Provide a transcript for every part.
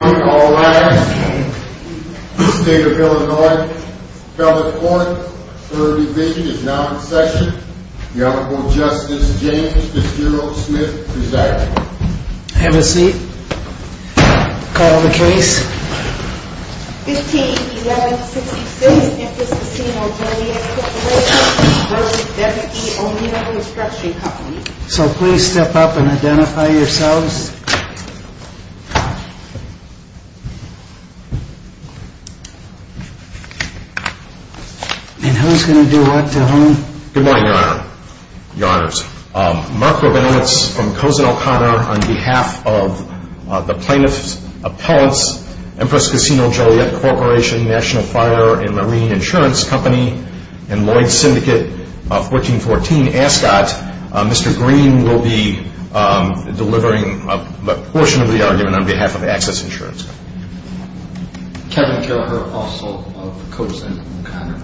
On call last, State of Illinois, California. Third division is now in session. The Honorable Justice James Fitzgerald Smith is acting. Have a seat. Call the case. 15-11-66 Memphis Casino Joliet Corp. v. W. E. O'Neil Construction Co. So please step up and identify yourselves. And who's going to do what to whom? Good morning, Your Honor. Your Honors. Mark Rabinowitz from Cozen O'Connor on behalf of the plaintiff's appellants, Empress Casino Joliet Corporation, National Fire and Marine Insurance Company, and Lloyds Syndicate, 1414 Ascot. Mr. Green will be delivering a portion of the argument on behalf of Access Insurance Company. Kevin Killeher, also of Cozen O'Connor.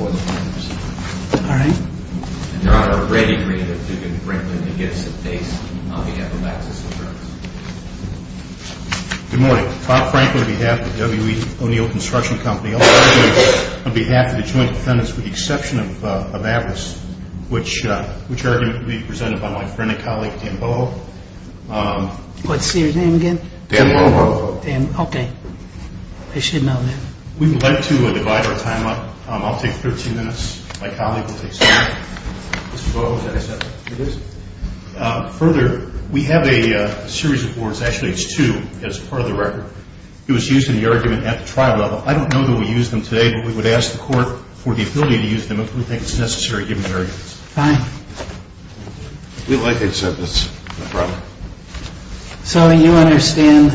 All right. And Your Honor, Brady Green of Duke and Franklin against the case on behalf of Access Insurance. Good morning. Bob Franklin on behalf of W. E. O'Neil Construction Company. On behalf of the joint defendants with the exception of Atlas, which are going to be presented by my friend and colleague Dan Boho. What's your name again? Dan Boho. Dan, okay. I should know that. We would like to divide our time up. I'll take 13 minutes. My colleague will take some more. Mr. Boho, is that accepted? It is. Further, we have a series of boards, actually it's two as part of the record. It was used in the argument at the trial level. I don't know that we use them today, but we would ask the court for the ability to use them if we think it's necessary given the arguments. Fine. We'd like to accept this. So you understand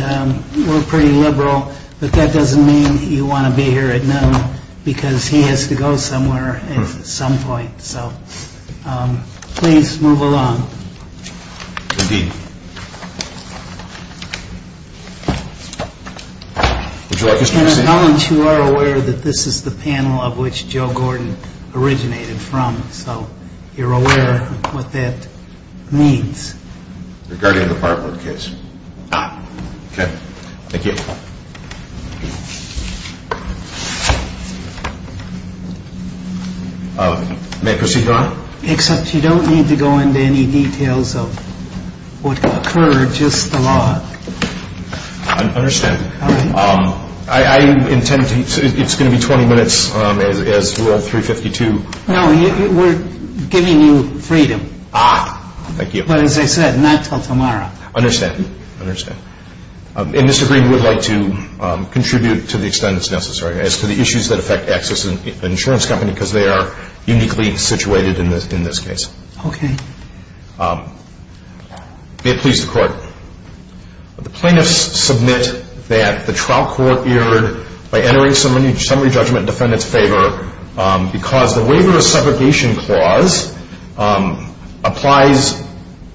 we're pretty liberal, but that doesn't mean you want to be here at noon because he has to go somewhere at some point. So please move along. Indeed. Would you like us to proceed? You are aware that this is the panel of which Joe Gordon originated from, so you're aware of what that means. Regarding the fireboard case. Okay. Thank you. May I proceed, Your Honor? Except you don't need to go into any details of what occurred, just the law. I understand. I intend it's going to be 20 minutes as rule 352. No, we're giving you freedom. Ah, thank you. But as I said, not until tomorrow. I understand. I understand. And Mr. Green would like to contribute to the extent that's necessary as to the issues that affect Access Insurance Company because they are uniquely situated in this case. Okay. May it please the Court. The plaintiffs submit that the trial court erred by entering summary judgment in defendant's favor because the waiver of separation clause applies,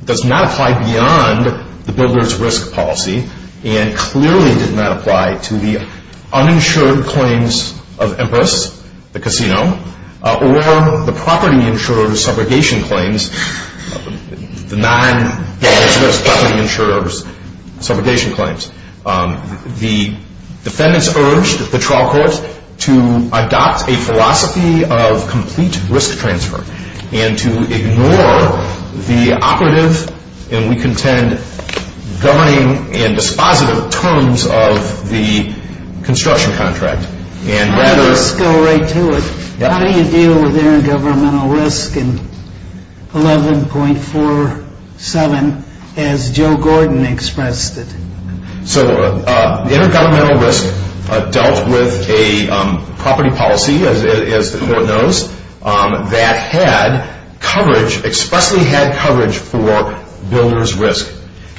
does not apply beyond the builder's risk policy and clearly did not apply to the uninsured claims of Empress, the casino, or the property insurer's subrogation claims, the non-builder's property insurer's subrogation claims. The defendants urged the trial court to adopt a philosophy of complete risk transfer and to ignore the operative, and we contend, governing and dispositive terms of the construction contract. How do you deal with intergovernmental risk in 11.47 as Joe Gordon expressed it? So intergovernmental risk dealt with a property policy, as the Court knows, that had coverage, expressly had coverage for builder's risk.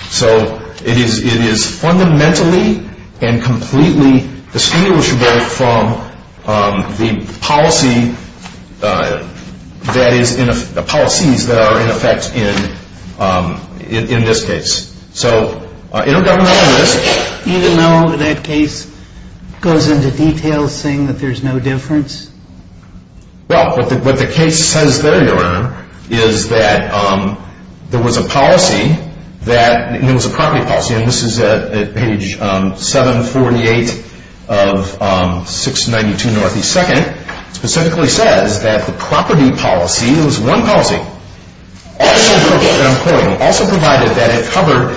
So it is fundamentally and completely distinguishable from the policies that are in effect in this case. So intergovernmental risk... Even though that case goes into detail saying that there's no difference? Well, what the case says there, Your Honor, is that there was a policy that, and it was a property policy, and this is at page 748 of 692 North East 2nd, specifically says that the property policy, it was one policy, also provided that it covered,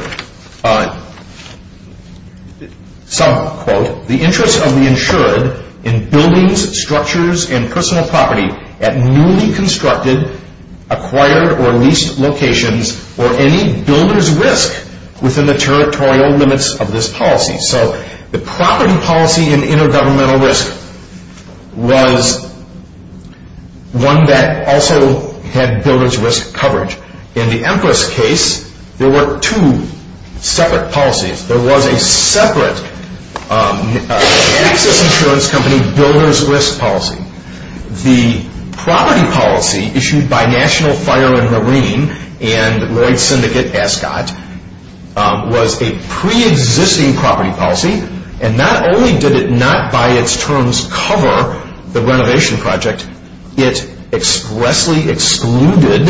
some quote, the interest of the insured in buildings, structures and personal property at newly constructed, acquired or leased locations or any builder's risk within the territorial limits of this policy. So the property policy in intergovernmental risk was one that also had builder's risk coverage. In the Empress case, there were two separate policies. There was a separate Texas insurance company builder's risk policy. The property policy issued by National Fire and Marine and Lloyd Syndicate Ascot was a preexisting property policy. And not only did it not by its terms cover the renovation project, it expressly excluded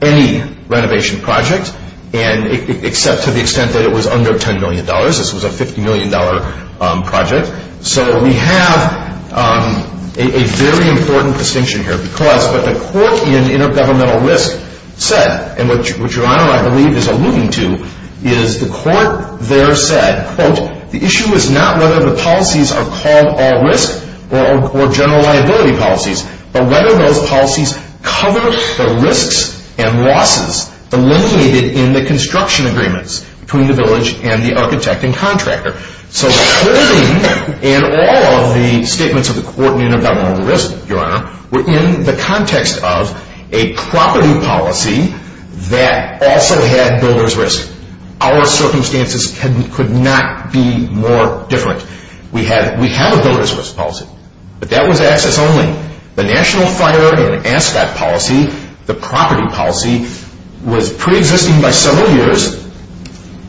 any renovation project, except to the extent that it was under $10 million. This was a $50 million project. So we have a very important distinction here because what the court in intergovernmental risk said, and what Your Honor, I believe, is alluding to, is the court there said, quote, the issue is not whether the policies are called all risk or general liability policies, but whether those policies cover the risks and losses eliminated in the construction agreements between the village and the architect and contractor. So clothing and all of the statements of the court in intergovernmental risk, Your Honor, were in the context of a property policy that also had builder's risk. Our circumstances could not be more different. We have a builder's risk policy, but that was access only. The National Fire and Ascot policy, the property policy, was preexisting by several years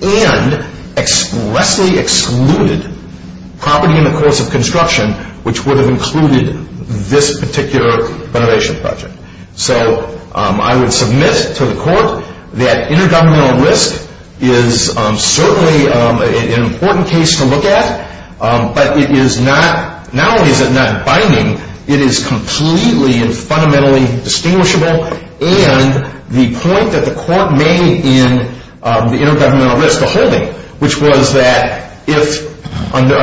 and expressly excluded property in the course of construction which would have included this particular renovation project. So I would submit to the court that intergovernmental risk is certainly an important case to look at, but it is not, now is it not binding. It is completely and fundamentally distinguishable, and the point that the court made in the intergovernmental risk, the holding, which was that if under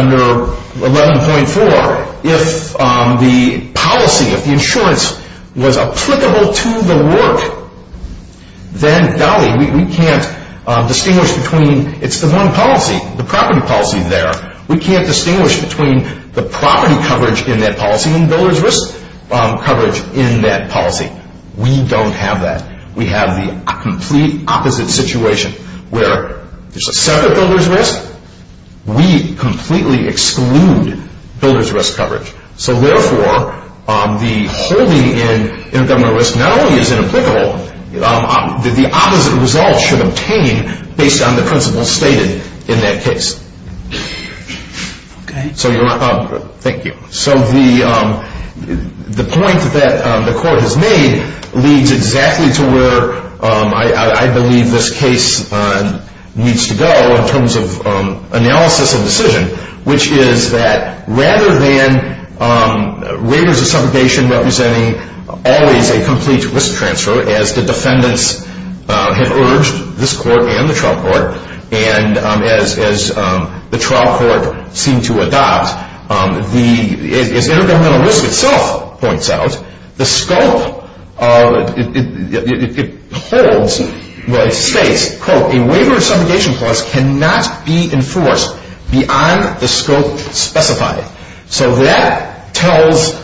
11.4, if the policy, if the insurance was applicable to the work, then, golly, we can't distinguish between, it's the one policy, the property policy there, we can't distinguish between the property coverage in that policy and builder's risk coverage in that policy. We don't have that. We have the complete opposite situation where there's a separate builder's risk. We completely exclude builder's risk coverage. So therefore, the holding in intergovernmental risk not only is inapplicable, the opposite result should obtain based on the principles stated in that case. Okay. Thank you. So the point that the court has made leads exactly to where I believe this case needs to go in terms of analysis and decision, which is that rather than waivers of subrogation representing always a complete risk transfer, as the defendants have urged, this court and the trial court, and as the trial court seemed to adopt, as intergovernmental risk itself points out, the scope, it holds, well, it states, quote, a waiver of subrogation clause cannot be enforced beyond the scope specified. So that tells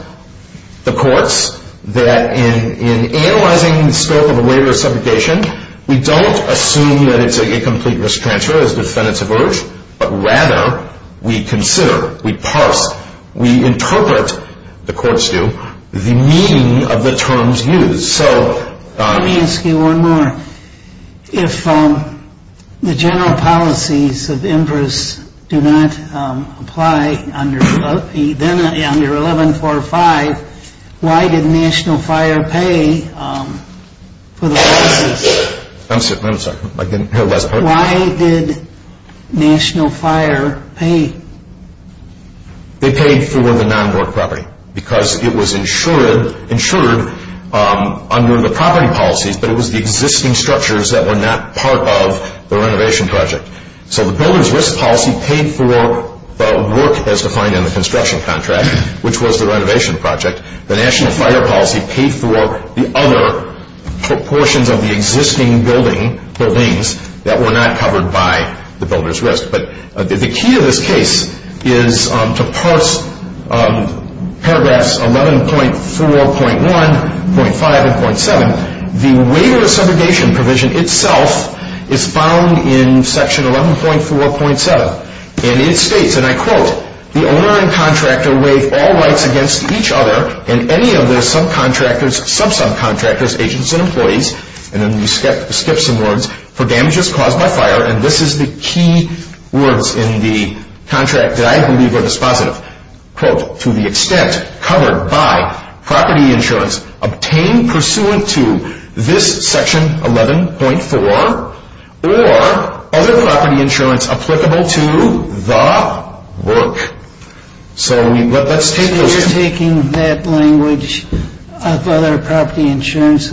the courts that in analyzing the scope of a waiver of subrogation, we don't assume that it's a complete risk transfer, as the defendants have urged, but rather we consider, we parse, we interpret, the courts do, the meaning of the terms used. So let me ask you one more. If the general policies of IMPRIS do not apply under 11-4-5, why did National Fire pay for the policies? I'm sorry, I didn't hear the last part. Why did National Fire pay? They paid for the non-work property because it was insured under the property policies, but it was the existing structures that were not part of the renovation project. So the builder's risk policy paid for the work as defined in the construction contract, which was the renovation project. The National Fire policy paid for the other proportions of the existing buildings that were not covered by the builder's risk. But the key to this case is to parse paragraphs 11.4.1, .5, and .7. The waiver of subrogation provision itself is found in section 11.4.7. And it states, and I quote, the owner and contractor waive all rights against each other and any of their subcontractors, sub-subcontractors, agents, and employees, and then we skip some words, for damages caused by fire. And this is the key words in the contract that I believe are dispositive. Quote, to the extent covered by property insurance obtained pursuant to this section 11.4 or other property insurance applicable to the work. So let's take this. You're taking that language of other property insurance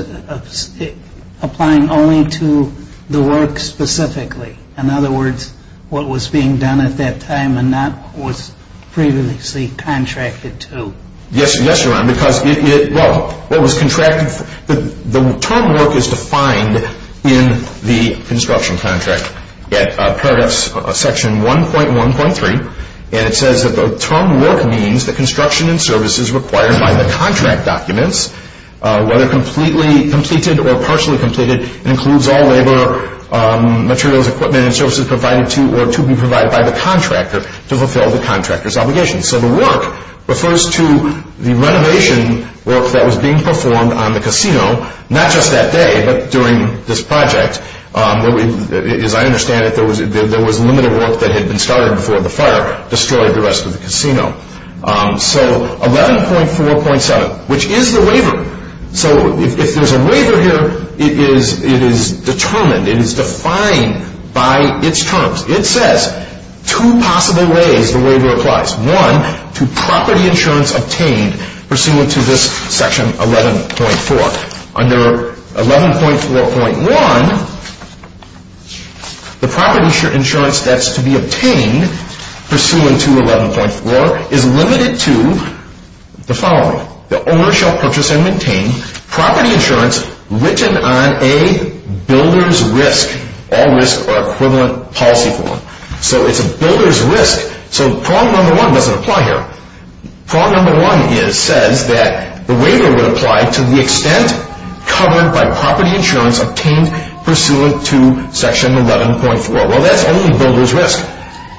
applying only to the work specifically. In other words, what was being done at that time and not what was previously contracted to. Yes, Your Honor, because it, well, what was contracted, the term work is defined in the construction contract. At paragraphs section 1.1.3. And it says that the term work means the construction and services required by the contract documents, whether completely completed or partially completed, includes all labor, materials, equipment, and services provided to or to be provided by the contractor to fulfill the contractor's obligations. So the work refers to the renovation work that was being performed on the casino, not just that day, but during this project. As I understand it, there was limited work that had been started before the fire destroyed the rest of the casino. So 11.4.7, which is the waiver. So if there's a waiver here, it is determined, it is defined by its terms. It says two possible ways the waiver applies. One, to property insurance obtained pursuant to this section 11.4. Under 11.4.1, the property insurance that's to be obtained pursuant to 11.4 is limited to the following. The owner shall purchase and maintain property insurance written on a builder's risk. All risks are equivalent policy form. So it's a builder's risk. So prong number one doesn't apply here. Prong number one says that the waiver would apply to the extent covered by property insurance obtained pursuant to section 11.4. Well, that's only builder's risk.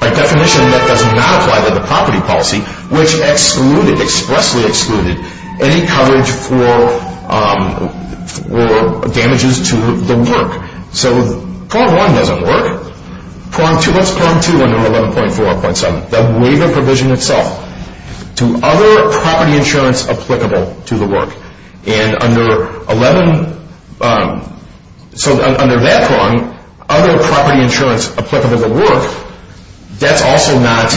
By definition, that does not apply to the property policy, which expressly excluded any coverage for damages to the work. So prong one doesn't work. What's prong two under 11.4.7? The waiver provision itself. To other property insurance applicable to the work. And under 11, so under that prong, other property insurance applicable to the work, that's also not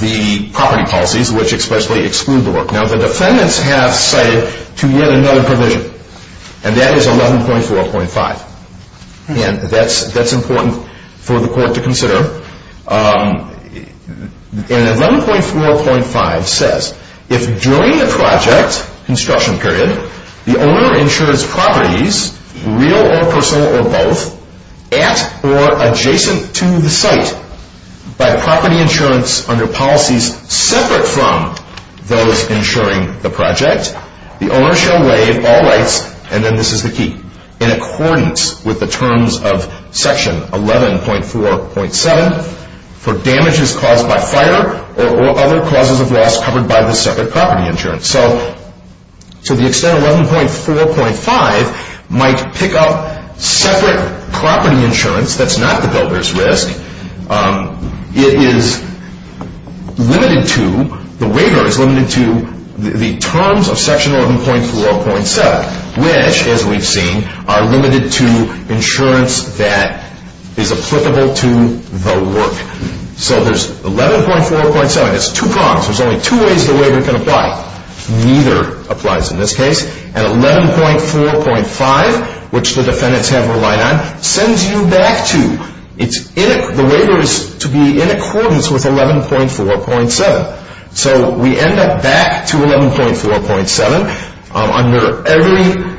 the property policies which expressly exclude the work. Now, the defendants have cited to yet another provision, and that is 11.4.5. And that's important for the court to consider. And 11.4.5 says, if during the project, construction period, the owner insures properties, real or personal or both, at or adjacent to the site, by property insurance under policies separate from those insuring the project, the owner shall waive all rights, and then this is the key, in accordance with the terms of section 11.4.7 for damages caused by fire or other causes of loss covered by the separate property insurance. So to the extent 11.4.5 might pick up separate property insurance, that's not the builder's risk. It is limited to, the waiver is limited to the terms of section 11.4.7, which, as we've seen, are limited to insurance that is applicable to the work. So there's 11.4.7, there's two prongs, there's only two ways the waiver can apply. Neither applies in this case. And 11.4.5, which the defendants have relied on, sends you back to, the waiver is to be in accordance with 11.4.7. So we end up back to 11.4.7 under every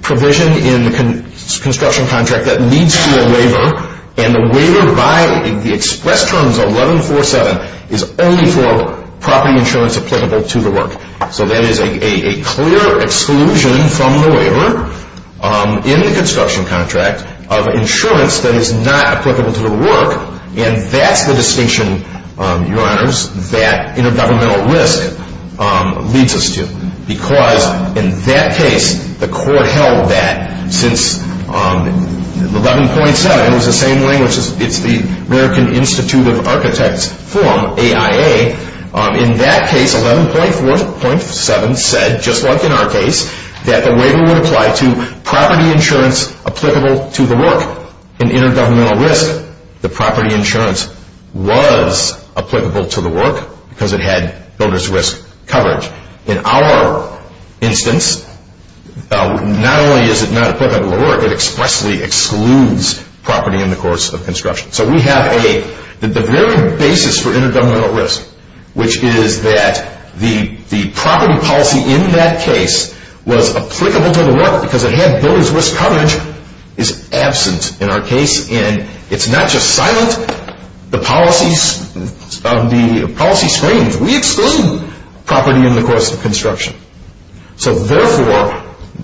provision in the construction contract that leads to a waiver, and the waiver by the express terms of 11.4.7 is only for property insurance applicable to the work. So that is a clear exclusion from the waiver in the construction contract of insurance that is not applicable to the work, and that's the distinction, your honors, that intergovernmental risk leads us to. Because in that case, the court held that since 11.7 was the same language, it's the American Institute of Architects form, AIA, in that case 11.4.7 said, just like in our case, that the waiver would apply to property insurance applicable to the work. In intergovernmental risk, the property insurance was applicable to the work because it had builder's risk coverage. In our instance, not only is it not applicable to the work, So we have the very basis for intergovernmental risk, which is that the property policy in that case was applicable to the work because it had builder's risk coverage is absent in our case, and it's not just silent, the policy screens, we exclude property in the course of construction. So therefore,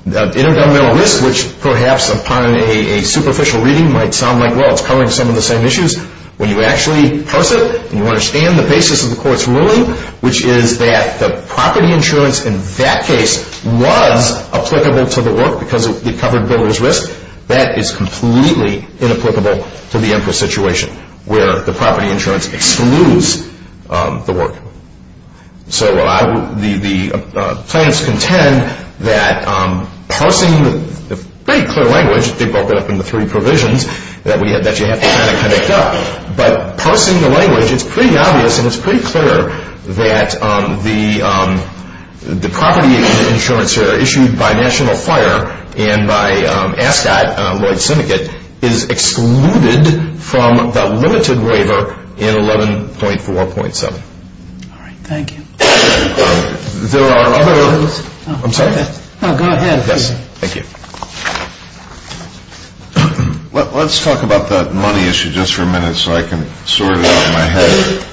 intergovernmental risk, which perhaps upon a superficial reading might sound like, well, it's covering some of the same issues, when you actually parse it and you understand the basis of the court's ruling, which is that the property insurance in that case was applicable to the work because it covered builder's risk, that is completely inapplicable to the Empress situation where the property insurance excludes the work. So the plaintiffs contend that parsing the very clear language, they broke it up into three provisions that you have to kind of connect up, but parsing the language, it's pretty obvious and it's pretty clear that the property insurance here issued by National Fire and by ASCOT, Lloyd's Syndicate, is excluded from the limited waiver in 11.4.7. All right, thank you. There are other... I'm sorry. No, go ahead. Yes, thank you. Let's talk about that money issue just for a minute so I can sort it out in my head.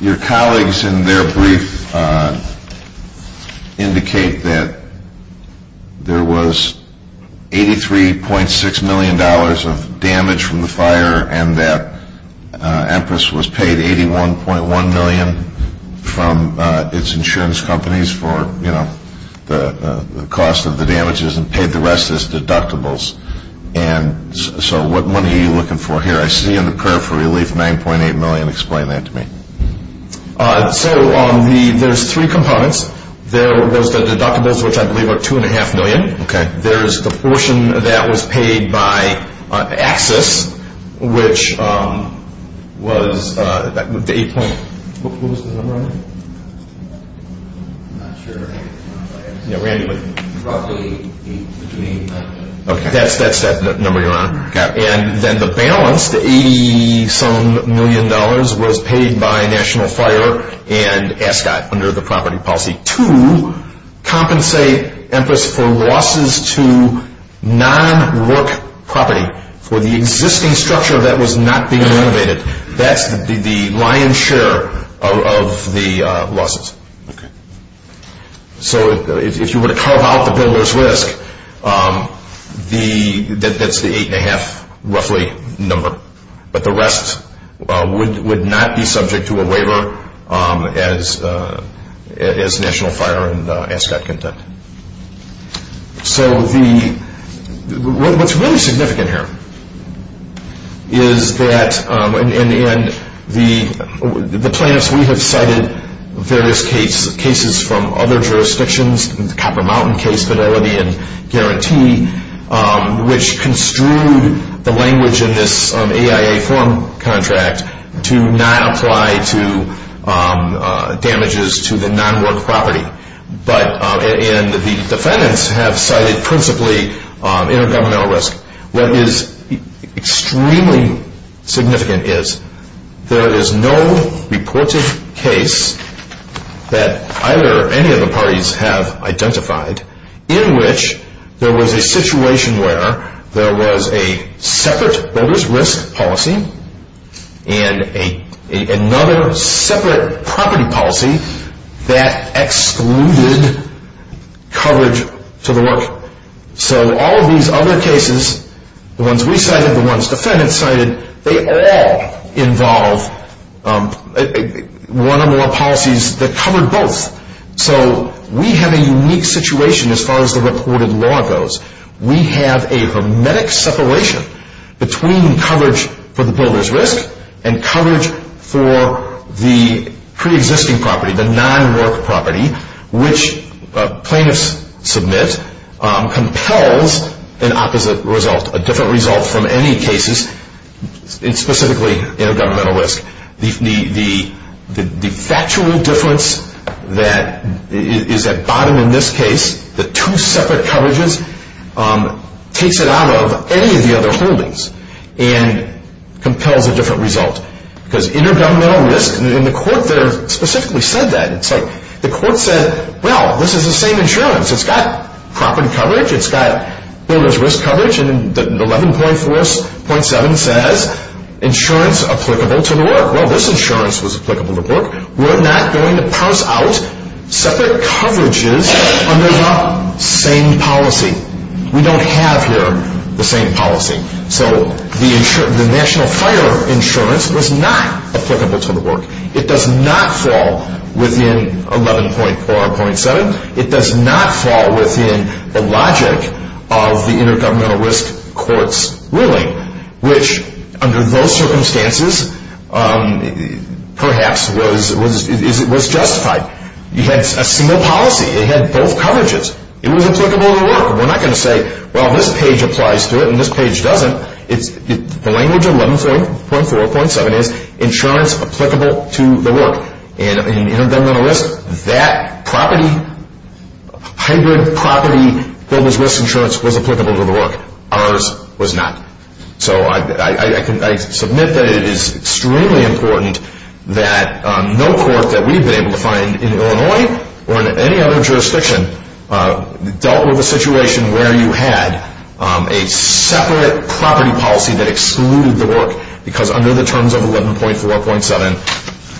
Your colleagues in their brief indicate that there was $83.6 million of damage from the fire and that Empress was paid $81.1 million from its insurance companies for the cost of the damages and paid the rest as deductibles. And so what money are you looking for here? I see on the curve for relief $9.8 million. Explain that to me. So there's three components. There was the deductibles, which I believe are $2.5 million. Okay. There's the portion that was paid by AXIS, which was... What was the number on it? I'm not sure. Yeah, Randy would... Roughly $8 million. Okay, that's that number you're on. Got it. And then the balance, the $87 million, was paid by National Fire and ASCOT to compensate Empress for losses to non-work property for the existing structure that was not being renovated. That's the lion's share of the losses. Okay. So if you were to carve out the builder's risk, that's the eight-and-a-half, roughly, number. But the rest would not be subject to a waiver as National Fire and ASCOT content. So what's really significant here is that the plaintiffs, we have cited various cases from other jurisdictions, the Copper Mountain case, Fidelity and Guarantee, which construed the language in this AIA form contract to not apply to damages to the non-work property. And the defendants have cited principally intergovernmental risk. What is extremely significant is there is no reported case that either or any of the parties have identified in which there was a situation where there was a separate builder's risk policy and another separate property policy that excluded coverage to the work. So all of these other cases, the ones we cited, the ones defendants cited, they all involve one or more policies that covered both. So we have a unique situation as far as the reported law goes. We have a hermetic separation between coverage for the builder's risk and coverage for the preexisting property, the non-work property, which plaintiffs submit compels an opposite result, a different result from any cases, specifically intergovernmental risk. The factual difference that is at bottom in this case, the two separate coverages, takes it out of any of the other holdings and compels a different result. Because intergovernmental risk, and the court there specifically said that. It's like the court said, well, this is the same insurance. It's got property coverage. It's got builder's risk coverage. And 11.4.7 says insurance applicable to the work. Well, this insurance was applicable to the work. We're not going to pass out separate coverages under the same policy. We don't have here the same policy. So the national fire insurance was not applicable to the work. It does not fall within 11.4.7. It does not fall within the logic of the intergovernmental risk court's ruling, which under those circumstances perhaps was justified. You had a single policy. It had both coverages. It was applicable to the work. We're not going to say, well, this page applies to it and this page doesn't. The language of 11.4.7 is insurance applicable to the work. In intergovernmental risk, that hybrid property builder's risk insurance was applicable to the work. Ours was not. So I submit that it is extremely important that no court that we've been able to find in Illinois or in any other jurisdiction dealt with a situation where you had a separate property policy that excluded the work because under the terms of 11.4.7,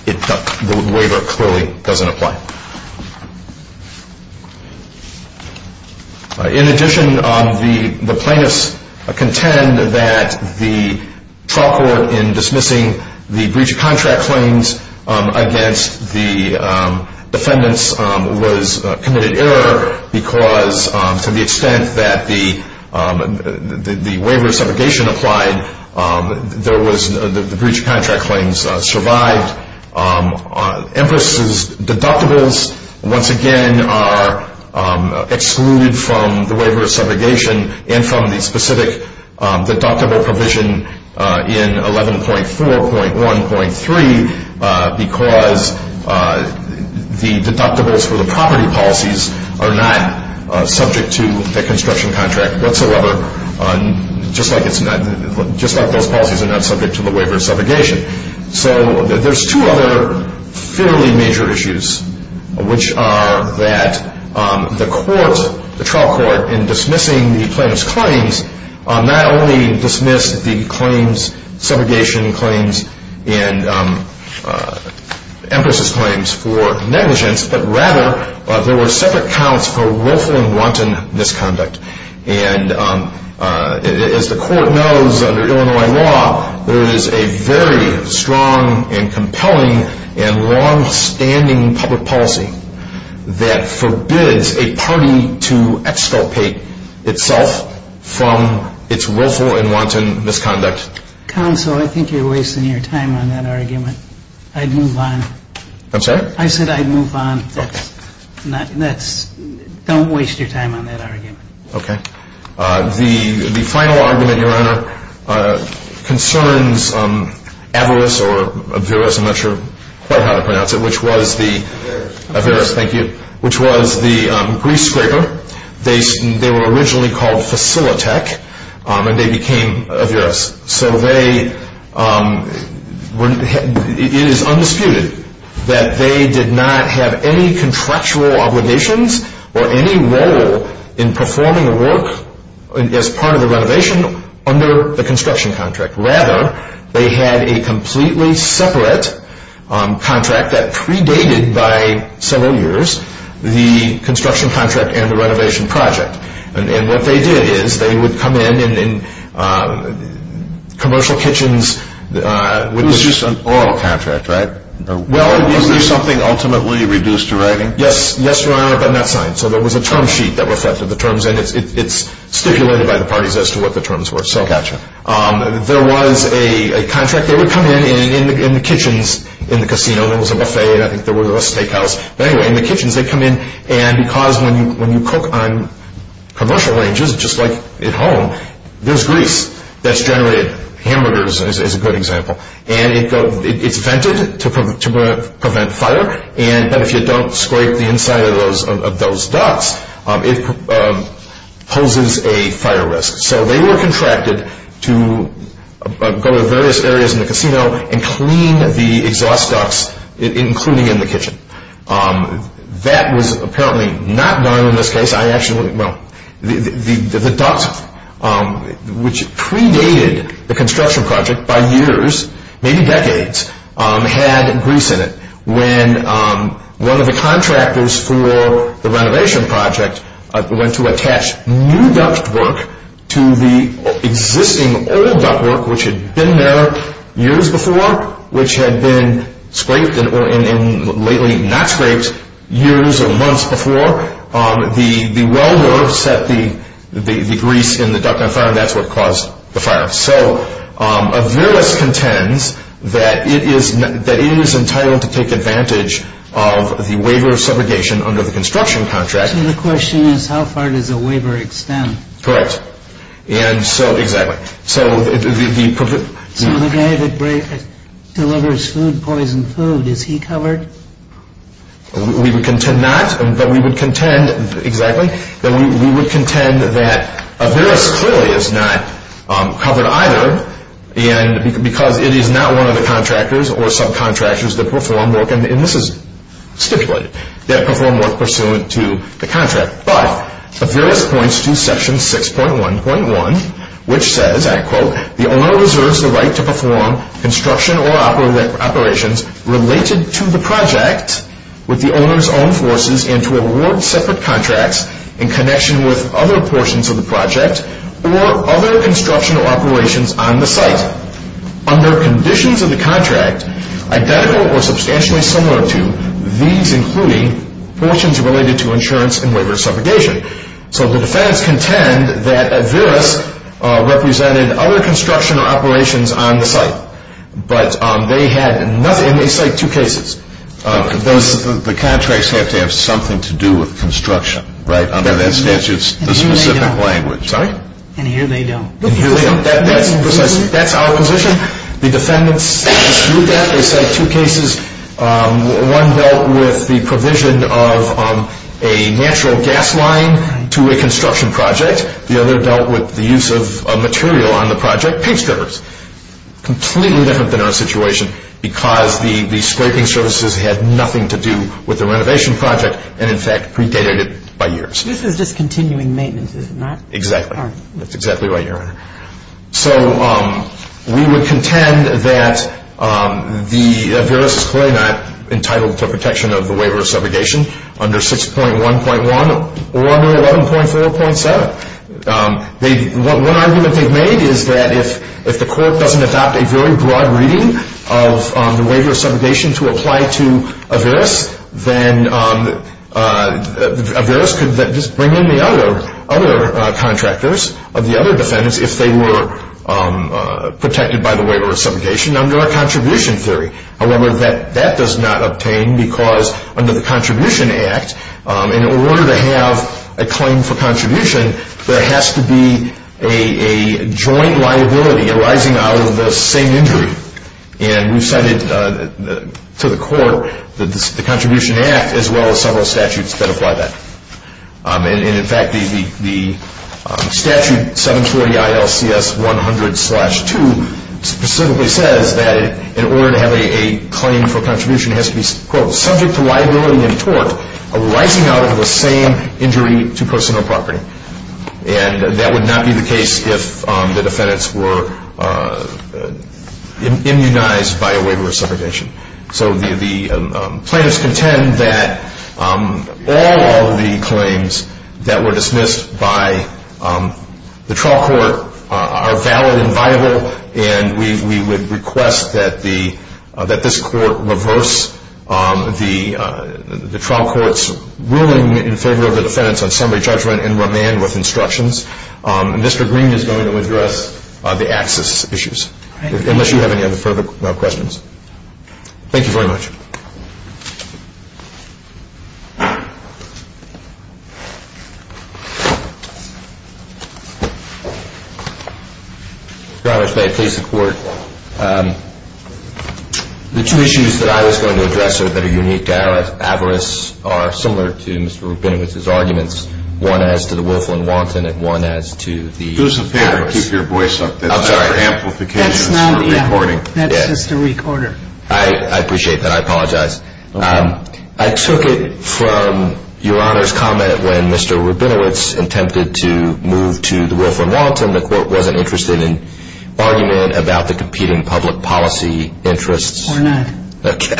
the waiver clearly doesn't apply. In addition, the plaintiffs contend that the trial court in dismissing the breach of contract claims against the defendants was committed error because to the extent that the waiver of subrogation applied, the breach of contract claims survived. Empress's deductibles once again are excluded from the waiver of subrogation and from the specific deductible provision in 11.4.1.3 because the deductibles for the property policies are not subject to the construction contract whatsoever, just like those policies are not subject to the waiver of subrogation. So there's two other fairly major issues, which are that the trial court in dismissing the plaintiff's claims not only dismissed the subrogation claims and Empress's claims for negligence, but rather there were separate counts for willful and wanton misconduct. And as the court knows under Illinois law, there is a very strong and compelling and long-standing public policy that forbids a party to exculpate itself from its willful and wanton misconduct. Counsel, I think you're wasting your time on that argument. I'd move on. I'm sorry? I said I'd move on. Don't waste your time on that argument. Okay. The final argument, Your Honor, concerns Averis or Averis, I'm not sure quite how to pronounce it, which was the Averis, thank you, which was the grease scraper. They were originally called Facilitech and they became Averis. So they, it is undisputed that they did not have any contractual obligations or any role in performing a work as part of the renovation under the construction contract. Rather, they had a completely separate contract that predated by several years the construction contract and the renovation project. And what they did is they would come in in commercial kitchens. It was just an oral contract, right? Well, Is there something ultimately reduced to writing? Yes, Your Honor, but not signed. So there was a term sheet that reflected the terms and it's stipulated by the parties as to what the terms were. Gotcha. There was a contract. They would come in in the kitchens in the casino. There was a buffet and I think there was a steakhouse. Anyway, in the kitchens they come in and because when you cook on commercial ranges, just like at home, there's grease that's generated. Hamburgers is a good example. And it's vented to prevent fire and if you don't scrape the inside of those ducts, it poses a fire risk. So they were contracted to go to various areas in the casino and clean the exhaust ducts, including in the kitchen. That was apparently not done in this case. The ducts, which predated the construction project by years, maybe decades, had grease in it. When one of the contractors for the renovation project went to attach new duct work to the existing old duct work, which had been there years before, which had been scraped and lately not scraped years or months before, the welder set the grease in the duct on fire and that's what caused the fire. So Averis contends that it is entitled to take advantage of the waiver of subrogation under the construction contract. So the question is how far does the waiver extend? Correct. And so, exactly. So the guy that delivers food, poisoned food, is he covered? We would contend not, but we would contend that Averis clearly is not covered either because it is not one of the contractors or subcontractors that perform work, and this is stipulated, that perform work pursuant to the contract. But Averis points to section 6.1.1, which says, I quote, the owner reserves the right to perform construction or operations related to the project with the owner's own forces and to award separate contracts in connection with other portions of the project or other construction or operations on the site under conditions of the contract identical or substantially similar to these including portions related to insurance and waiver of subrogation. So the defendants contend that Averis represented other construction or operations on the site, but they had nothing, and they cite two cases. The contracts have to have something to do with construction, right, under that statute, the specific language. Sorry? And here they don't. That's our position. The defendants dispute that. They cite two cases. One dealt with the provision of a natural gas line to a construction project. The other dealt with the use of material on the project, paint strippers. Completely different than our situation because the scraping services had nothing to do with the renovation project and, in fact, predated it by years. This is just continuing maintenance, is it not? Exactly. That's exactly right, Your Honor. So we would contend that Averis is clearly not entitled to protection of the waiver of subrogation under 6.1.1 or under 11.4.7. One argument they've made is that if the court doesn't adopt a very broad reading of the waiver of subrogation to apply to Averis, then Averis could just bring in the other contractors of the other defendants if they were protected by the waiver of subrogation under our contribution theory. However, that does not obtain because under the Contribution Act, in order to have a claim for contribution, there has to be a joint liability arising out of the same injury. And we've cited to the court the Contribution Act as well as several statutes that apply that. And, in fact, the statute 740 ILCS 100-2 specifically says that in order to have a claim for contribution, it has to be, quote, subject to liability and tort arising out of the same injury to personal property. And that would not be the case if the defendants were immunized by a waiver of subrogation. So the plaintiffs contend that all of the claims that were dismissed by the trial court are valid and viable, and we would request that this court reverse the trial court's ruling in favor of the defendants on summary judgment and remand with instructions. Mr. Green is going to address the access issues, unless you have any other further questions. Thank you very much. Mr. Roberts, may I please the court? The two issues that I was going to address that are unique to Avarice are similar to Mr. Rubinowitz's arguments, one as to the willful and wanton and one as to the Avarice. Do us a favor. Keep your voice up. I'm sorry. That's not amplification. That's not recording. That's just a recorder. I appreciate that. I apologize. I took it from Your Honor's comment when Mr. Rubinowitz attempted to move to the willful and wanton. The court wasn't interested in argument about the competing public policy interests. We're not. Okay.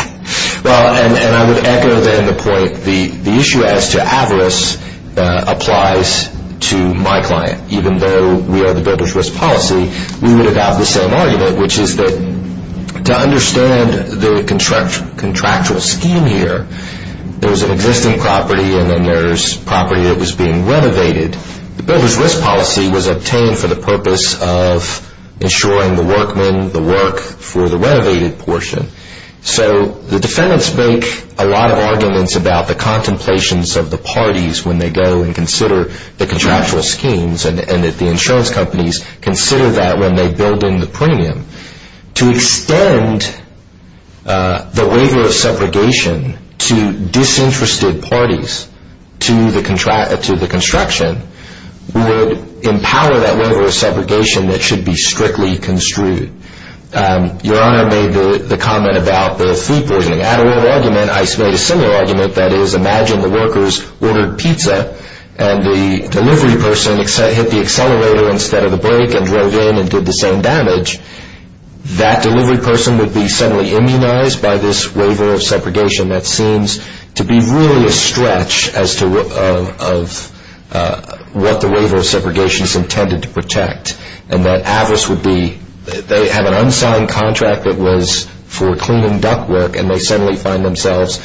Well, and I would echo then the point, the issue as to Avarice applies to my client. Even though we are the builder's risk policy, we would adopt the same argument, which is that to understand the contractual scheme here, there's an existing property and then there's property that was being renovated. The builder's risk policy was obtained for the purpose of ensuring the workmen the work for the renovated portion. So the defendants make a lot of arguments about the contemplations of the parties when they go and consider the contractual schemes and that the insurance companies consider that when they build in the premium. To extend the waiver of segregation to disinterested parties to the construction would empower that waiver of segregation that should be strictly construed. Your Honor made the comment about the fee poisoning. I made a similar argument, that is, imagine the workers ordered pizza and the delivery person hit the accelerator instead of the brake and drove in and did the same damage. That delivery person would be suddenly immunized by this waiver of segregation that seems to be really a stretch as to what the waiver of segregation is intended to protect. They have an unsigned contract that was for cleaning ductwork and they suddenly find themselves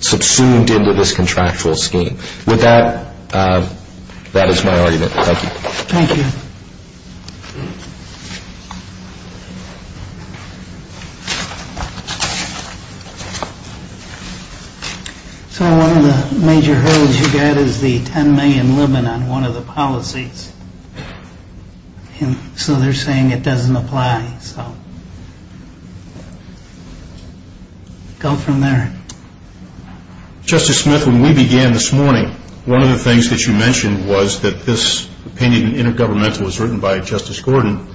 subsumed into this contractual scheme. With that, that is my argument. Thank you. Thank you. One of the major hurdles you get is the 10 million limit on one of the policies. So they are saying it doesn't apply. Go from there. Justice Smith, when we began this morning, one of the things that you mentioned was that this opinion in Intergovernmental was written by Justice Gordon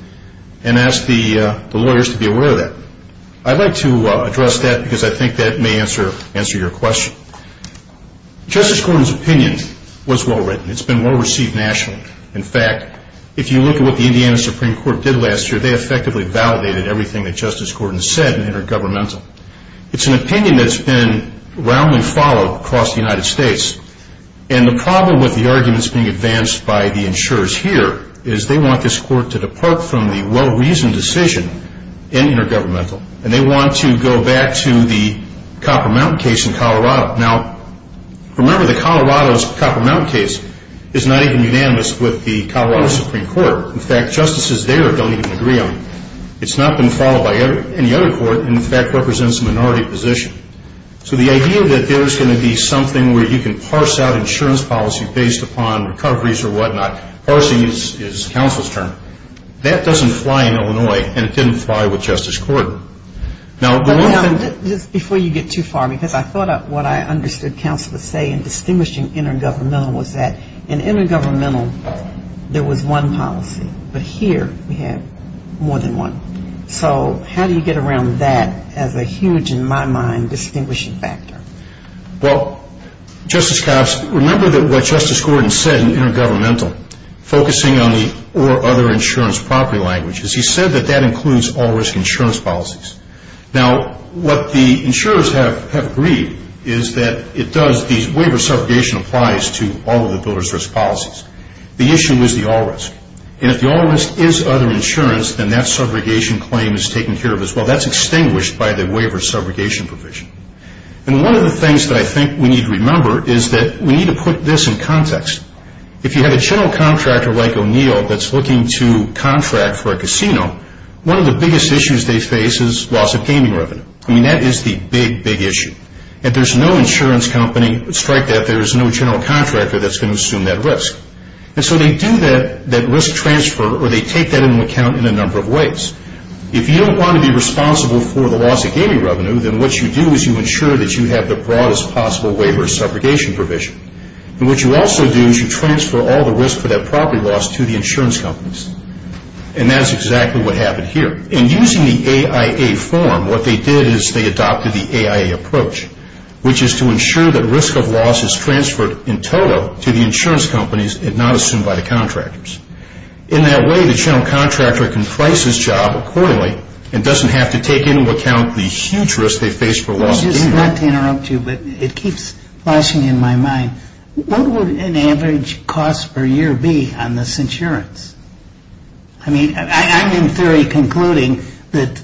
and asked the lawyers to be aware of that. I'd like to address that because I think that may answer your question. Justice Gordon's opinion was well written. It's been well received nationally. In fact, if you look at what the Indiana Supreme Court did last year, they effectively validated everything that Justice Gordon said in Intergovernmental. It's an opinion that's been roundly followed across the United States. And the problem with the arguments being advanced by the insurers here is they want this court to depart from the well-reasoned decision in Intergovernmental. And they want to go back to the Copper Mountain case in Colorado. Now, remember the Colorado's Copper Mountain case is not even unanimous with the Colorado Supreme Court. In fact, justices there don't even agree on it. It's not been followed by any other court and, in fact, represents a minority position. So the idea that there's going to be something where you can parse out insurance policy based upon recoveries or whatnot, parsing is counsel's term, that doesn't fly in Illinois, and it didn't fly with Justice Gordon. Now, the one thing... Just before you get too far, because I thought what I understood counsel was saying, distinguishing Intergovernmental was that in Intergovernmental there was one policy, but here we have more than one. So how do you get around that as a huge, in my mind, distinguishing factor? Well, Justice Cox, remember that what Justice Gordon said in Intergovernmental, focusing on the or other insurance property language, is he said that that includes all-risk insurance policies. Now, what the insurers have agreed is that it does... the waiver of subrogation applies to all of the builder's risk policies. The issue is the all-risk. And if the all-risk is other insurance, then that subrogation claim is taken care of as well. That's extinguished by the waiver subrogation provision. And one of the things that I think we need to remember is that we need to put this in context. If you have a general contractor like O'Neill that's looking to contract for a casino, one of the biggest issues they face is loss of gaming revenue. I mean, that is the big, big issue. If there's no insurance company, strike that, there's no general contractor that's going to assume that risk. And so they do that risk transfer or they take that into account in a number of ways. If you don't want to be responsible for the loss of gaming revenue, then what you do is you ensure that you have the broadest possible waiver subrogation provision. And what you also do is you transfer all the risk for that property loss to the insurance companies. And that's exactly what happened here. In using the AIA form, what they did is they adopted the AIA approach, which is to ensure that risk of loss is transferred in total to the insurance companies and not assumed by the contractors. In that way, the general contractor can price his job accordingly and doesn't have to take into account the huge risk they face for loss of gaming. I just want to interrupt you, but it keeps flashing in my mind. What would an average cost per year be on this insurance? I mean, I'm in theory concluding that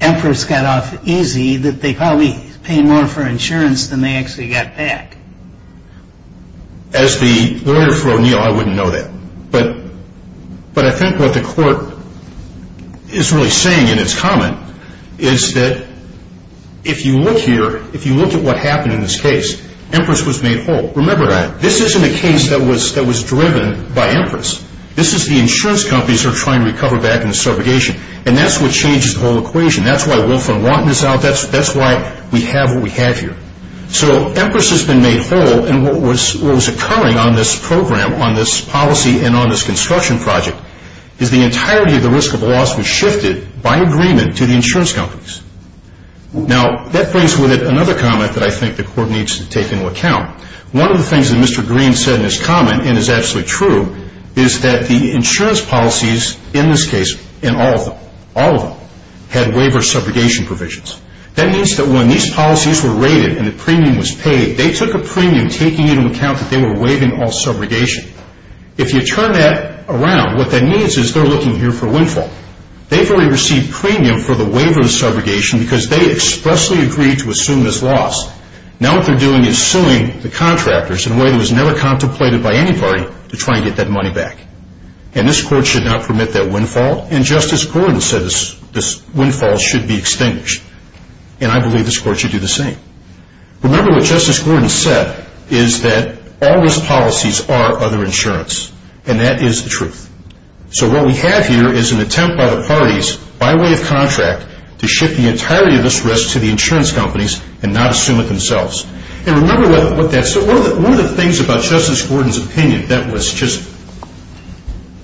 emperors got off easy, that they probably paid more for insurance than they actually got back. As the lawyer for O'Neill, I wouldn't know that. But I think what the court is really saying in its comment is that if you look here, if you look at what happened in this case, emperors was made whole. Remember that. This isn't a case that was driven by emperors. This is the insurance companies that are trying to recover back in the subrogation. And that's what changes the whole equation. That's why Wolfram wanted this out. That's why we have what we have here. So emperors has been made whole. And what was occurring on this program, on this policy, and on this construction project, is the entirety of the risk of loss was shifted by agreement to the insurance companies. Now, that brings with it another comment that I think the court needs to take into account. One of the things that Mr. Green said in his comment, and is absolutely true, is that the insurance policies in this case, in all of them, all of them, had waiver subrogation provisions. That means that when these policies were rated and the premium was paid, they took a premium taking into account that they were waiving all subrogation. If you turn that around, what that means is they're looking here for windfall. They've already received premium for the waiver of subrogation because they expressly agreed to assume this loss. Now what they're doing is suing the contractors in a way that was never contemplated by anybody to try and get that money back. And this court should not permit that windfall. And Justice Gordon says this windfall should be extinguished. And I believe this court should do the same. Remember what Justice Gordon said is that all risk policies are other insurance. And that is the truth. So what we have here is an attempt by the parties, by way of contract, to shift the entirety of this risk to the insurance companies and not assume it themselves. And remember what that says. One of the things about Justice Gordon's opinion that was just,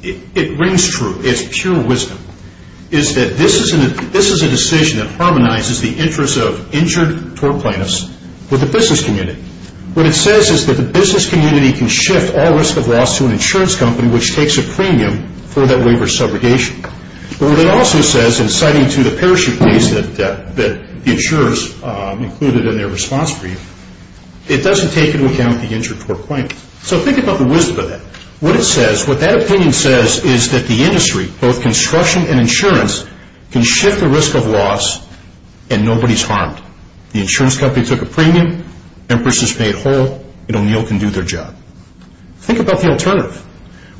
it rings true, it's pure wisdom, is that this is a decision that harmonizes the interests of injured tort plaintiffs with the business community. What it says is that the business community can shift all risk of loss to an insurance company which takes a premium for that waiver of subrogation. But what it also says, and citing to the parachute case that the insurers included in their response brief, it doesn't take into account the injured tort plaintiffs. So think about the wisdom of that. What it says, what that opinion says is that the industry, both construction and insurance, can shift the risk of loss and nobody's harmed. The insurance company took a premium, empress is paid whole, and O'Neill can do their job. Think about the alternative.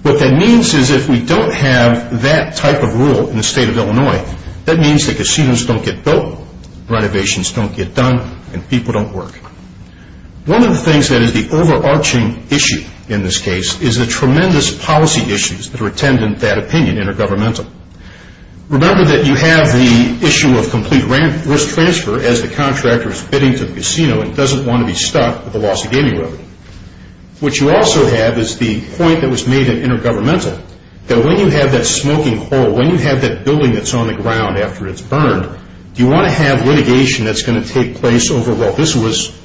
What that means is if we don't have that type of rule in the state of Illinois, that means that casinos don't get built, renovations don't get done, and people don't work. One of the things that is the overarching issue in this case is the tremendous policy issues that are attended in that opinion, intergovernmental. Remember that you have the issue of complete risk transfer as the contractor is bidding to the casino and doesn't want to be stuck with the loss of gaming revenue. What you also have is the point that was made in intergovernmental, that when you have that smoking hole, when you have that building that's on the ground after it's burned, you want to have litigation that's going to take place over, well, this was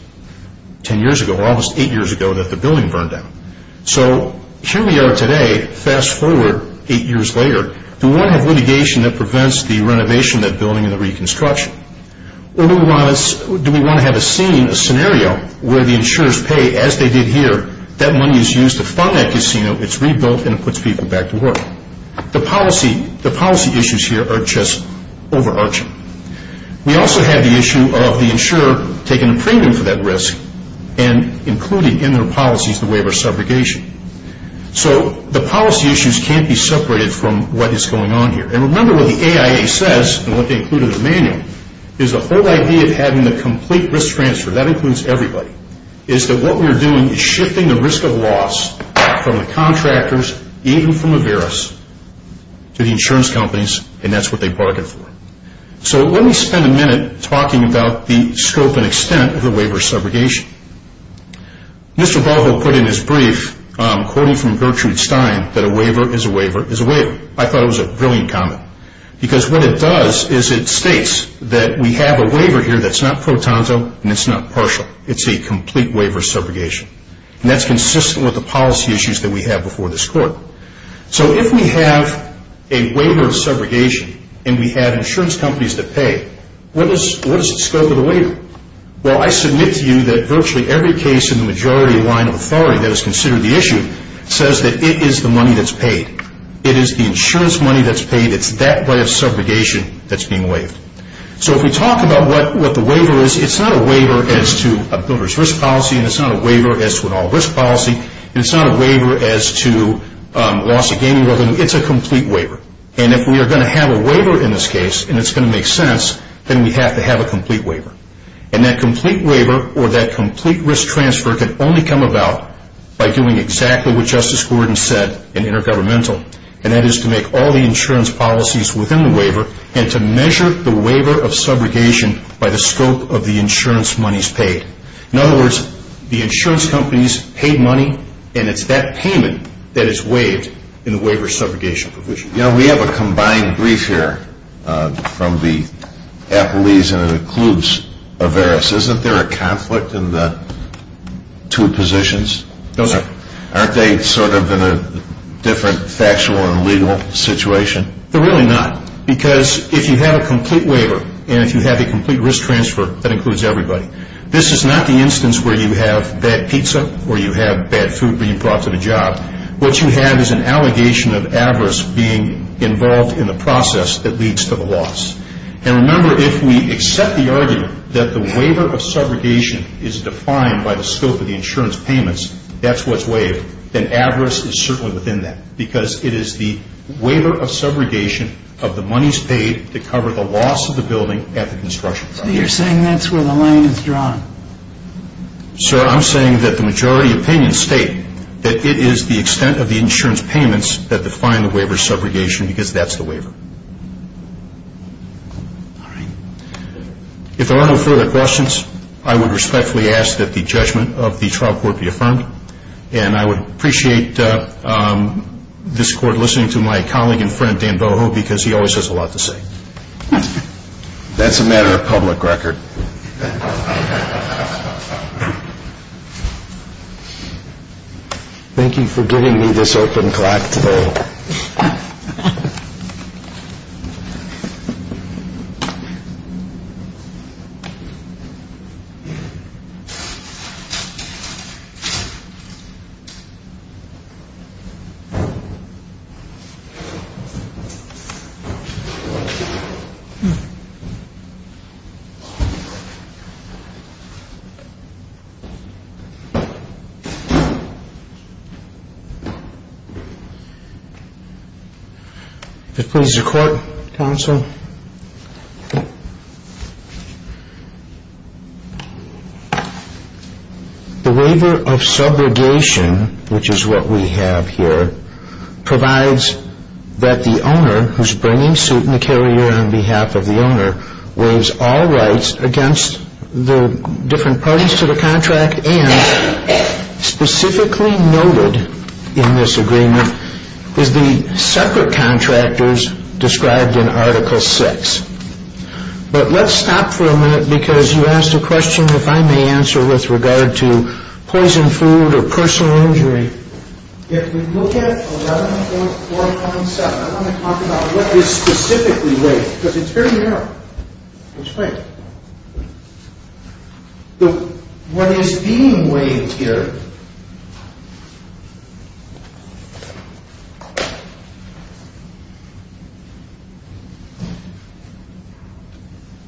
10 years ago, almost eight years ago that the building burned down. So here we are today, fast forward eight years later, do we want to have litigation that prevents the renovation of that building and the reconstruction? Or do we want to have a scene, a scenario where the insurers pay as they did here, that money is used to fund that casino, it's rebuilt, and it puts people back to work? The policy issues here are just overarching. We also have the issue of the insurer taking a premium for that risk and including in their policies the waiver of subrogation. So the policy issues can't be separated from what is going on here. And remember what the AIA says, and what they include in their manual, is the whole idea of having the complete risk transfer, that includes everybody, is that what we are doing is shifting the risk of loss from the contractors, even from Averis, to the insurance companies, and that's what they bargain for. So let me spend a minute talking about the scope and extent of the waiver of subrogation. Mr. Balvo put in his brief, quoting from Gertrude Stein, that a waiver is a waiver is a waiver. I thought it was a brilliant comment. Because what it does is it states that we have a waiver here that's not pro tonto and it's not partial. It's a complete waiver of subrogation. And that's consistent with the policy issues that we have before this court. So if we have a waiver of subrogation and we have insurance companies that pay, what is the scope of the waiver? Well, I submit to you that virtually every case in the majority line of authority that is considered the issue says that it is the money that's paid. It is the insurance money that's paid. It's that way of subrogation that's being waived. So if we talk about what the waiver is, it's not a waiver as to a builder's risk policy and it's not a waiver as to an all risk policy and it's not a waiver as to loss of gaming revenue. It's a complete waiver. And if we are going to have a waiver in this case and it's going to make sense, then we have to have a complete waiver. And that complete waiver or that complete risk transfer can only come about by doing exactly what Justice Gordon said in Intergovernmental, and that is to make all the insurance policies within the waiver and to measure the waiver of subrogation by the scope of the insurance monies paid. In other words, the insurance companies paid money and it's that payment that is waived in the waiver of subrogation provision. You know, we have a combined brief here from the Appellees and it includes Averis. Isn't there a conflict in the two positions? No, sir. Aren't they sort of in a different factual and legal situation? They're really not because if you have a complete waiver and if you have a complete risk transfer, that includes everybody. This is not the instance where you have bad pizza or you have bad food being brought to the job. What you have is an allegation of Averis being involved in the process that leads to the loss. And remember, if we accept the argument that the waiver of subrogation is defined by the scope of the insurance payments, that's what's waived, then Averis is certainly within that because it is the waiver of subrogation of the monies paid to cover the loss of the building at the construction site. So you're saying that's where the line is drawn? Sir, I'm saying that the majority opinions state that it is the extent of the insurance payments that define the waiver of subrogation because that's the waiver. All right. If there are no further questions, I would respectfully ask that the judgment of the trial court be affirmed. And I would appreciate this court listening to my colleague and friend Dan Boho because he always has a lot to say. That's a matter of public record. Thank you for giving me this open clock today. If it pleases the court, counsel. The waiver of subrogation, which is what we have here, provides that the owner who's bringing suit in the carrier on behalf of the owner waives all rights against the different parties to the contract and specifically noted in this agreement is the separate contractors described in Article VI. But let's stop for a minute because you asked a question if I may answer with regard to poison food or personal injury. If we look at 11.417, I want to talk about what is specifically waived because it's very narrow. What is being waived here,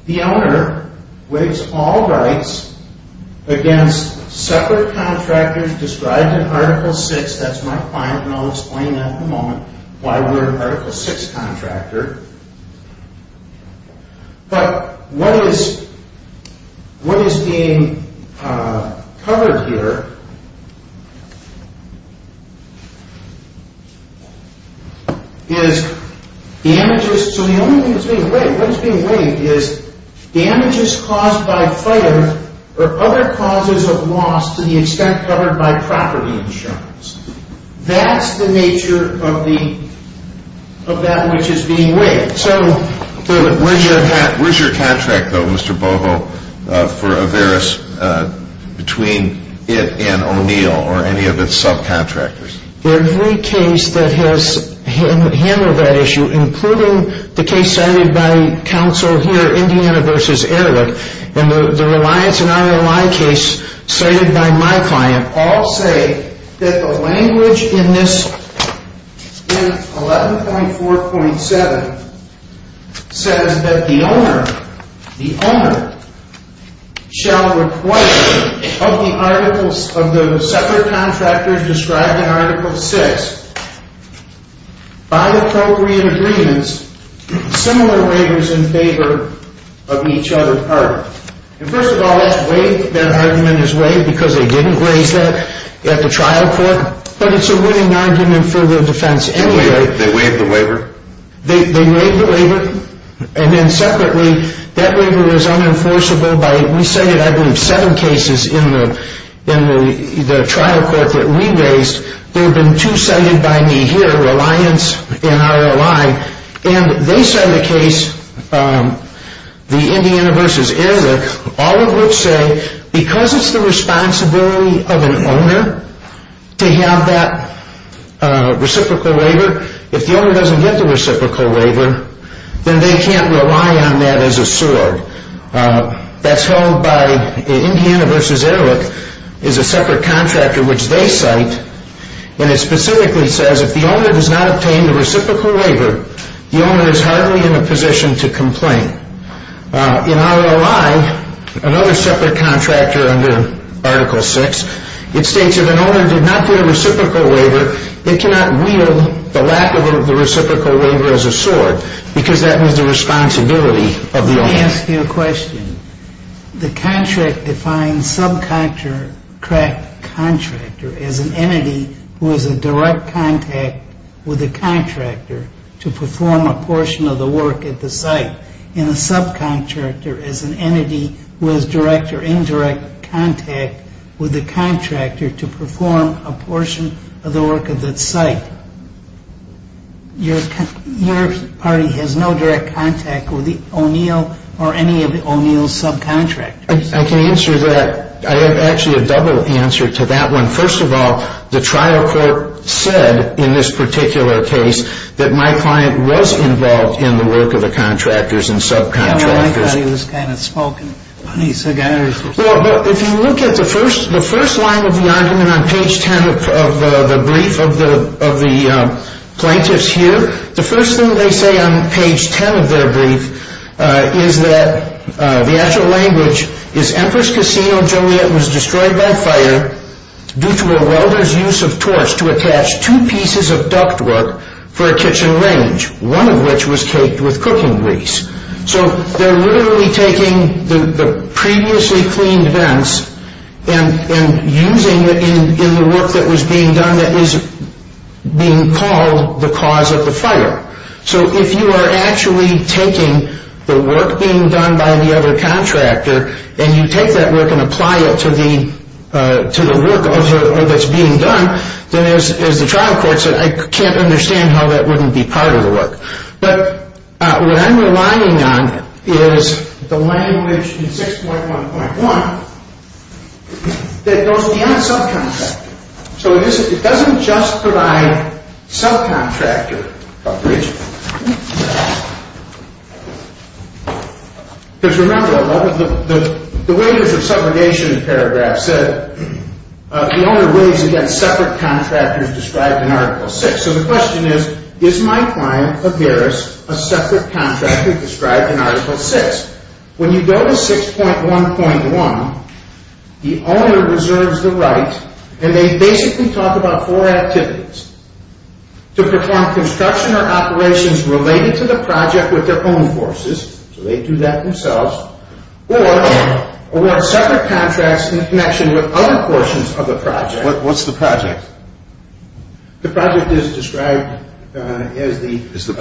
the owner waives all rights against separate contractors described in Article VI. That's my client, and I'll explain in a moment why we're an Article VI contractor. But what is being covered here is damages caused by fire or other causes of loss to the extent covered by property insurance. That's the nature of that which is being waived. Where's your contract, though, Mr. Boho, for Averis between it and O'Neill or any of its subcontractors? Every case that has handled that issue, including the case cited by counsel here, Indiana v. Ehrlich, and the Reliance and RLI case cited by my client, all say that the language in 11.4.7 says that the owner shall require of the separate contractors described in Article VI, by appropriate agreements, similar waivers in favor of each other. First of all, that argument is waived because they didn't raise that at the trial court, but it's a winning argument for the defense anyway. They waived the waiver? They waived the waiver, and then separately, that waiver was unenforceable by, we cited, I believe, seven cases in the trial court that we raised. There have been two cited by me here, Reliance and RLI, and they cite a case, the Indiana v. Ehrlich, all of which say, because it's the responsibility of an owner to have that reciprocal waiver, if the owner doesn't get the reciprocal waiver, then they can't rely on that as a sword. That's held by, Indiana v. Ehrlich is a separate contractor which they cite, and it specifically says if the owner does not obtain the reciprocal waiver, the owner is hardly in a position to complain. In RLI, another separate contractor under Article VI, it states if an owner did not get a reciprocal waiver, they cannot wield the lack of the reciprocal waiver as a sword because that was the responsibility of the owner. Let me ask you a question. The contract defines subcontractor as an entity who has a direct contact with the contractor to perform a portion of the work at the site, and a subcontractor is an entity who has direct or indirect contact with the contractor to perform a portion of the work at that site. Your party has no direct contact with O'Neill or any of O'Neill's subcontractors. I can answer that. I have actually a double answer to that one. First of all, the trial court said in this particular case that my client was involved in the work of the contractors and subcontractors. I thought he was kind of spoken. If you look at the first line of the argument on page 10 of the brief of the plaintiffs here, the first thing they say on page 10 of their brief is that the actual language is Empress Casino Joliet was destroyed by fire due to a welder's use of torch to attach two pieces of ductwork for a kitchen range, one of which was caked with cooking grease. So they're literally taking the previously cleaned vents and using it in the work that was being done that is being called the cause of the fire. So if you are actually taking the work being done by the other contractor and you take that work and apply it to the work that's being done, then as the trial court said, I can't understand how that wouldn't be part of the work. But what I'm relying on is the language in 6.1.1 that goes beyond subcontractor. So it doesn't just provide subcontractor coverage. Because remember, the wages of subrogation paragraph said the owner weighs against separate contractors described in Article VI. So the question is, is my client, a heiress, a separate contractor described in Article VI? When you go to 6.1.1, the owner reserves the right, and they basically talk about four activities, to perform construction or operations related to the project with their own forces, so they do that themselves, or award separate contracts in connection with other portions of the project. What's the project? The project is described as the... Is the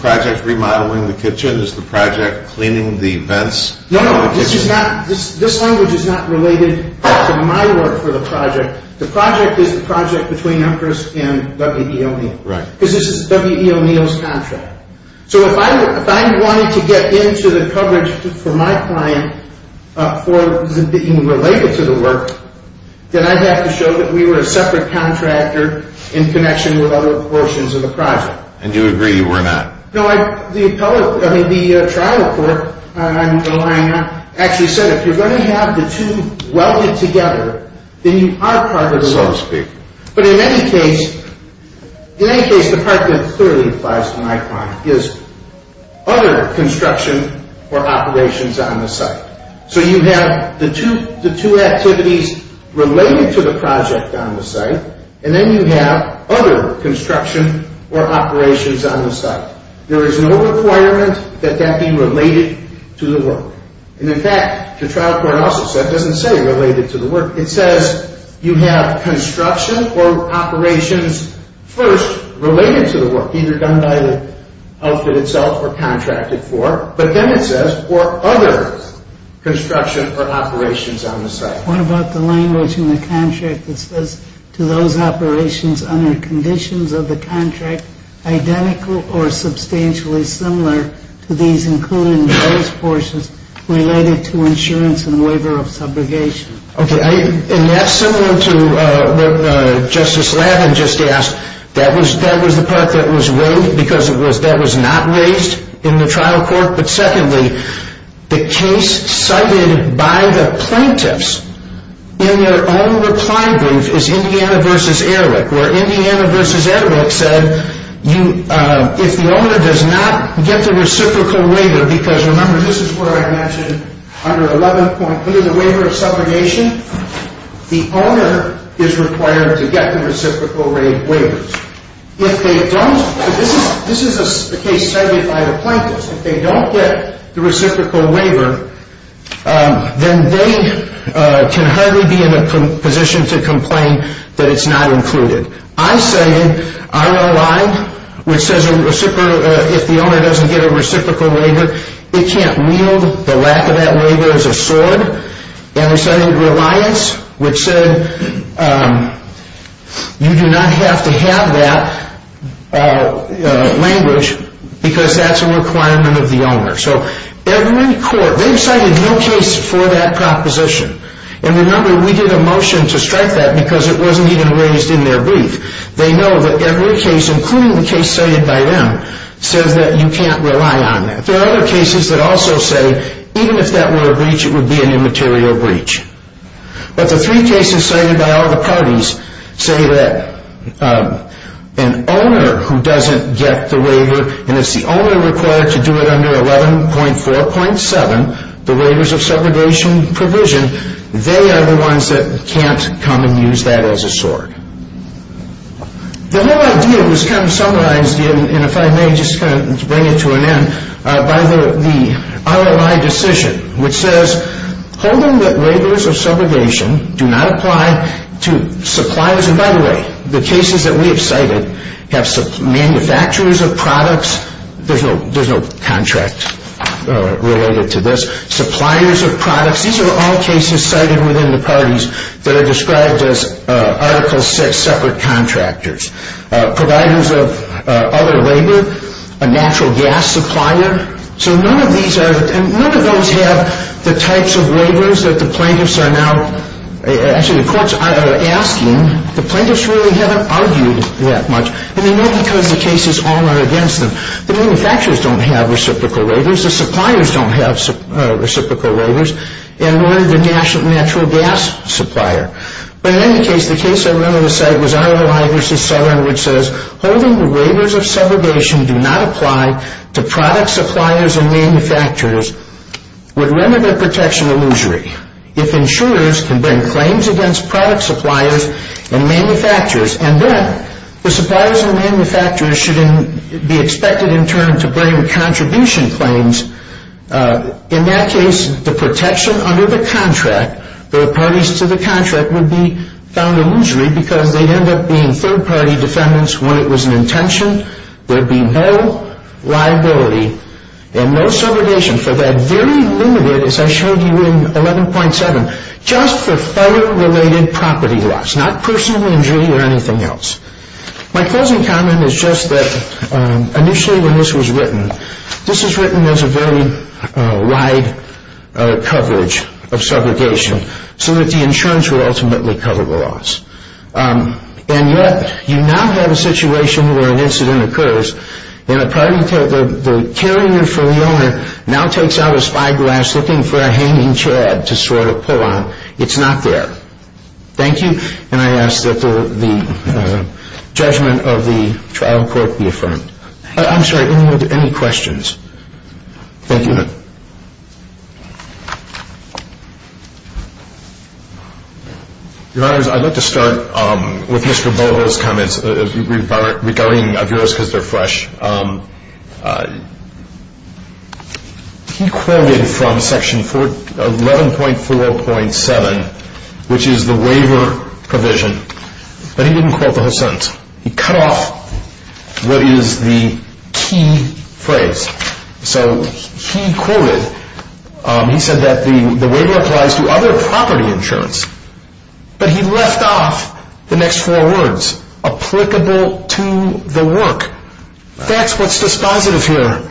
project remodeling the kitchen? Is the project cleaning the vents in the kitchen? No, no, this language is not related to my work for the project. The project is the project between Empress and W.E.O. Neal. Right. Because this is W.E.O. Neal's contract. So if I wanted to get into the coverage for my client for being related to the work, then I'd have to show that we were a separate contractor in connection with other portions of the project. And you agree you were not? No, the trial report I'm relying on actually said, if you're going to have the two welded together, then you are part of the work. So to speak. But in any case, the part that clearly applies to my client is other construction or operations on the site. So you have the two activities related to the project on the site, and then you have other construction or operations on the site. There is no requirement that that be related to the work. And in fact, the trial report also said, it doesn't say related to the work, it says you have construction or operations first related to the work, either done by the outfit itself or contracted for, but then it says, or other construction or operations on the site. What about the language in the contract that says to those operations under conditions of the contract identical or substantially similar to these included in those portions related to insurance and waiver of subrogation? Okay, and that's similar to what Justice Lavin just asked. That was the part that was raised because that was not raised in the trial court. But secondly, the case cited by the plaintiffs in their own reply brief is Indiana v. Erwick, where Indiana v. Erwick said, if the owner does not get the reciprocal waiver, because remember this is where I mentioned under 11.8 of the waiver of subrogation, the owner is required to get the reciprocal waiver. If they don't, this is the case cited by the plaintiffs, if they don't get the reciprocal waiver, then they can hardly be in a position to complain that it's not included. I say, ROI, which says if the owner doesn't get a reciprocal waiver, it can't wield the lack of that waiver as a sword, and they cited reliance, which said you do not have to have that language because that's a requirement of the owner. So every court, they've cited no case for that proposition. And remember, we did a motion to strike that because it wasn't even raised in their brief. They know that every case, including the case cited by them, says that you can't rely on that. But there are other cases that also say even if that were a breach, it would be an immaterial breach. But the three cases cited by all the parties say that an owner who doesn't get the waiver, and it's the owner required to do it under 11.4.7, the waivers of subrogation provision, they are the ones that can't come and use that as a sword. The whole idea was kind of summarized, and if I may just kind of bring it to an end, by the ROI decision, which says holding that waivers of subrogation do not apply to suppliers. And by the way, the cases that we have cited have manufacturers of products. There's no contract related to this. Suppliers of products. These are all cases cited within the parties that are described as Article VI separate contractors. Providers of other labor. A natural gas supplier. So none of these are – none of those have the types of waivers that the plaintiffs are now – actually, the courts are asking. The plaintiffs really haven't argued that much. And they know because the cases all are against them. The manufacturers don't have reciprocal waivers. The suppliers don't have reciprocal waivers. And nor do the natural gas supplier. But in any case, the case I remember to cite was ROI v. Southern, which says holding the waivers of subrogation do not apply to product suppliers and manufacturers with remnant protection illusory. If insurers can bring claims against product suppliers and manufacturers, and then the suppliers and manufacturers should be expected in turn to bring contribution claims, in that case, the protection under the contract, the parties to the contract would be found illusory because they'd end up being third-party defendants when it was an intention. There'd be no liability and no subrogation for that very limited, as I showed you in 11.7, just for fire-related property loss, not personal injury or anything else. My closing comment is just that initially when this was written, this was written as a very wide coverage of subrogation so that the insurance would ultimately cover the loss. And yet you now have a situation where an incident occurs and the carrier for the owner now takes out a spyglass looking for a hanging chad to sort of pull on. It's not there. Thank you. And I ask that the judgment of the trial court be affirmed. I'm sorry, any questions? Thank you. Your Honors, I'd like to start with Mr. Bovo's comments regarding Aviras because they're fresh. He quoted from Section 11.4.7, which is the waiver provision, but he didn't quote the whole sentence. He cut off what is the key phrase. So he quoted, he said that the waiver applies to other property insurance, but he left off the next four words, applicable to the work. That's what's dispositive here,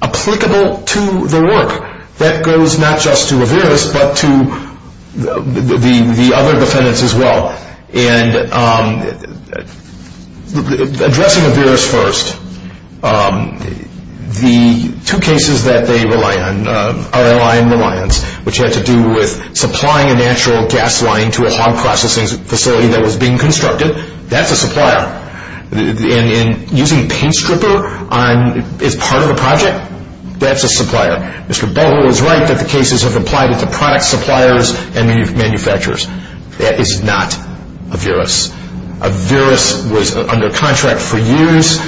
applicable to the work. That goes not just to Aviras but to the other defendants as well. And addressing Aviras first, the two cases that they rely on, RLI and Reliance, which had to do with supplying a natural gas line to a hog processing facility that was being constructed, that's a supplier. And using paint stripper as part of a project, that's a supplier. Mr. Bovo is right that the cases have applied to product suppliers and manufacturers. That is not Aviras. Aviras was under contract for years,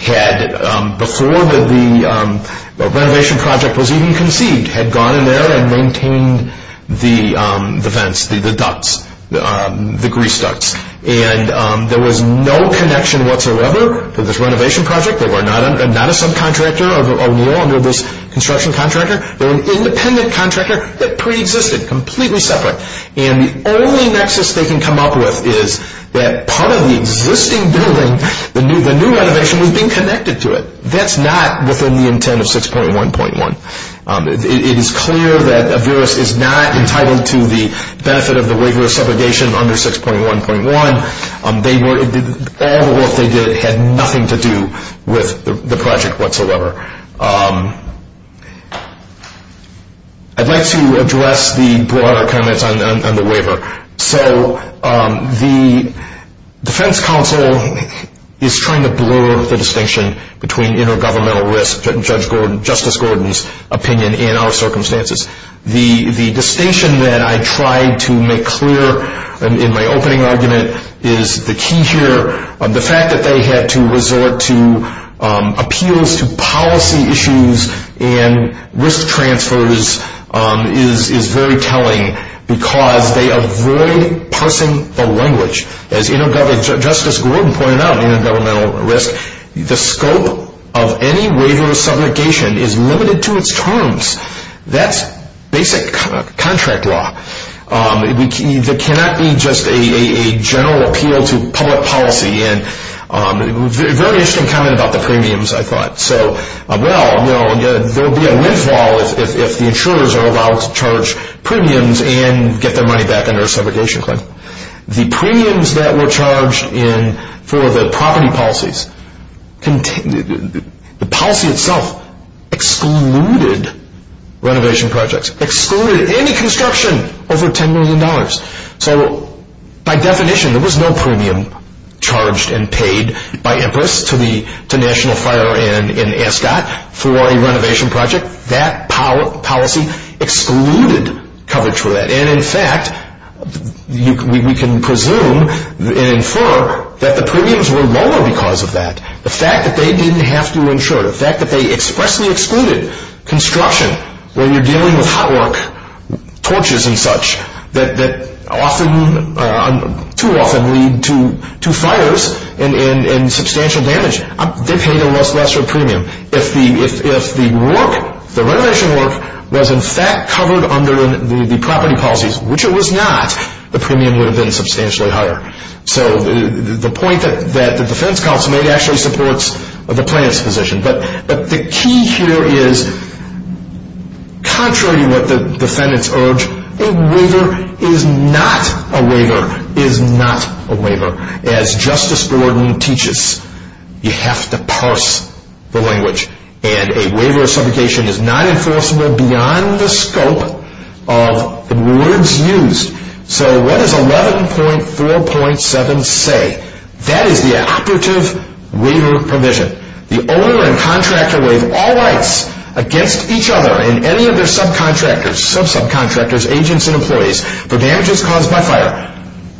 had, before the renovation project was even conceived, had gone in there and maintained the vents, the ducts, the grease ducts. And there was no connection whatsoever to this renovation project. They were not a subcontractor of O'Neill under this construction contractor. They were an independent contractor that preexisted, completely separate. And the only nexus they can come up with is that part of the existing building, the new renovation, was being connected to it. That's not within the intent of 6.1.1. It is clear that Aviras is not entitled to the benefit of the waiver of subrogation under 6.1.1. All the work they did had nothing to do with the project whatsoever. I'd like to address the broader comments on the waiver. So the defense counsel is trying to blur the distinction between intergovernmental risk, Justice Gordon's opinion, and our circumstances. The distinction that I tried to make clear in my opening argument is the key here. The fact that they had to resort to appeals to policy issues and risk transfers is very telling because they avoid parsing the language. As Justice Gordon pointed out, intergovernmental risk, the scope of any waiver of subrogation is limited to its terms. That's basic contract law. There cannot be just a general appeal to public policy. A very interesting comment about the premiums, I thought. Well, there would be a windfall if the insurers are allowed to charge premiums and get their money back under a subrogation claim. The premiums that were charged for the property policies, the policy itself excluded renovation projects, excluded any construction over $10 million. So by definition, there was no premium charged and paid by Empress to National Fire and ASCOT for a renovation project. That policy excluded coverage for that. And in fact, we can presume and infer that the premiums were lower because of that. The fact that they didn't have to insure it, the fact that they expressly excluded construction when you're dealing with hot work, torches and such that too often lead to fires and substantial damage, they paid a lesser premium. If the renovation work was in fact covered under the property policies, which it was not, the premium would have been substantially higher. So the point that the defense counsel made actually supports the plaintiff's position. But the key here is, contrary to what the defendants urge, a waiver is not a waiver is not a waiver. As Justice Borden teaches, you have to parse the language. And a waiver of subrogation is not enforceable beyond the scope of the words used. So what does 11.4.7 say? That is the operative waiver provision. The owner and contractor waive all rights against each other and any of their subcontractors, sub-subcontractors, agents and employees for damages caused by fire.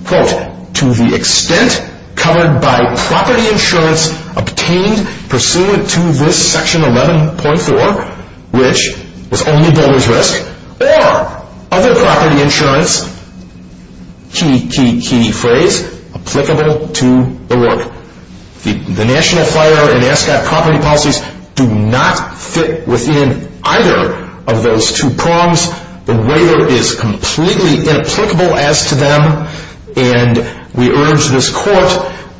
Quote, to the extent covered by property insurance obtained pursuant to this section 11.4, which was only buller's risk, or other property insurance, key, key, key phrase, applicable to the work. The National Fire and Ascot property policies do not fit within either of those two prongs. The waiver is completely inapplicable as to them. And we urge this court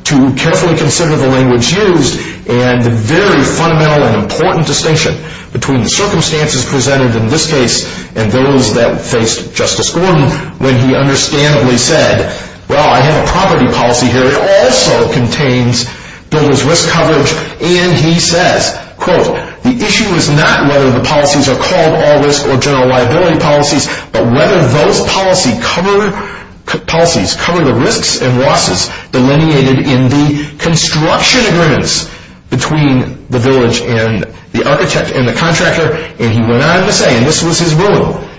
to carefully consider the language used and the very fundamental and important distinction between the circumstances presented in this case and those that faced Justice Borden when he understandably said, well, I have a property policy here. It also contains buller's risk coverage. And he says, quote, the issue is not whether the policies are called all risk or general liability policies, but whether those policies cover the risks and losses delineated in the construction agreements between the village and the architect and the contractor. And he went on to say, and this was his ruling, quote,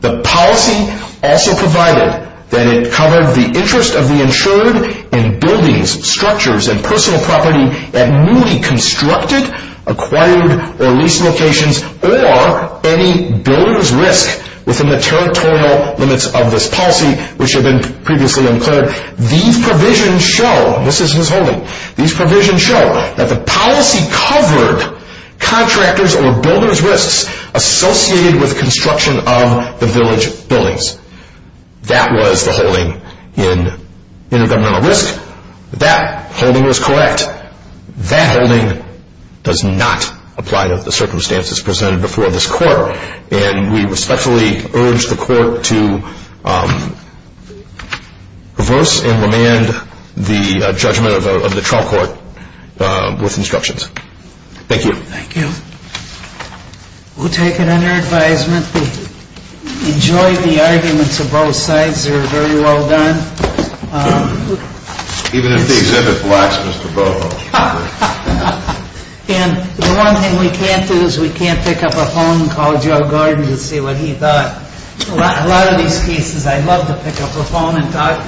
the policy also provided that it covered the interest of the insured in buildings, structures, and personal property that newly constructed, acquired, or leased locations, or any buller's risk within the territorial limits of this policy, which had been previously unclared. These provisions show, and this is his ruling, these provisions show that the policy covered contractors or buller's risks associated with construction of the village buildings. That was the holding in intergovernmental risk. That holding was correct. That holding does not apply to the circumstances presented before this court. And we respectfully urge the court to reverse and remand the judgment of the trial court with instructions. Thank you. Thank you. We'll take it under advisement. We enjoyed the arguments of both sides. They were very well done. Even if the exhibit lacks Mr. Boho. And the one thing we can't do is we can't pick up a phone and call Joe Gordon and see what he thought. A lot of these cases I'd love to pick up the phone and talk to him. Thank you.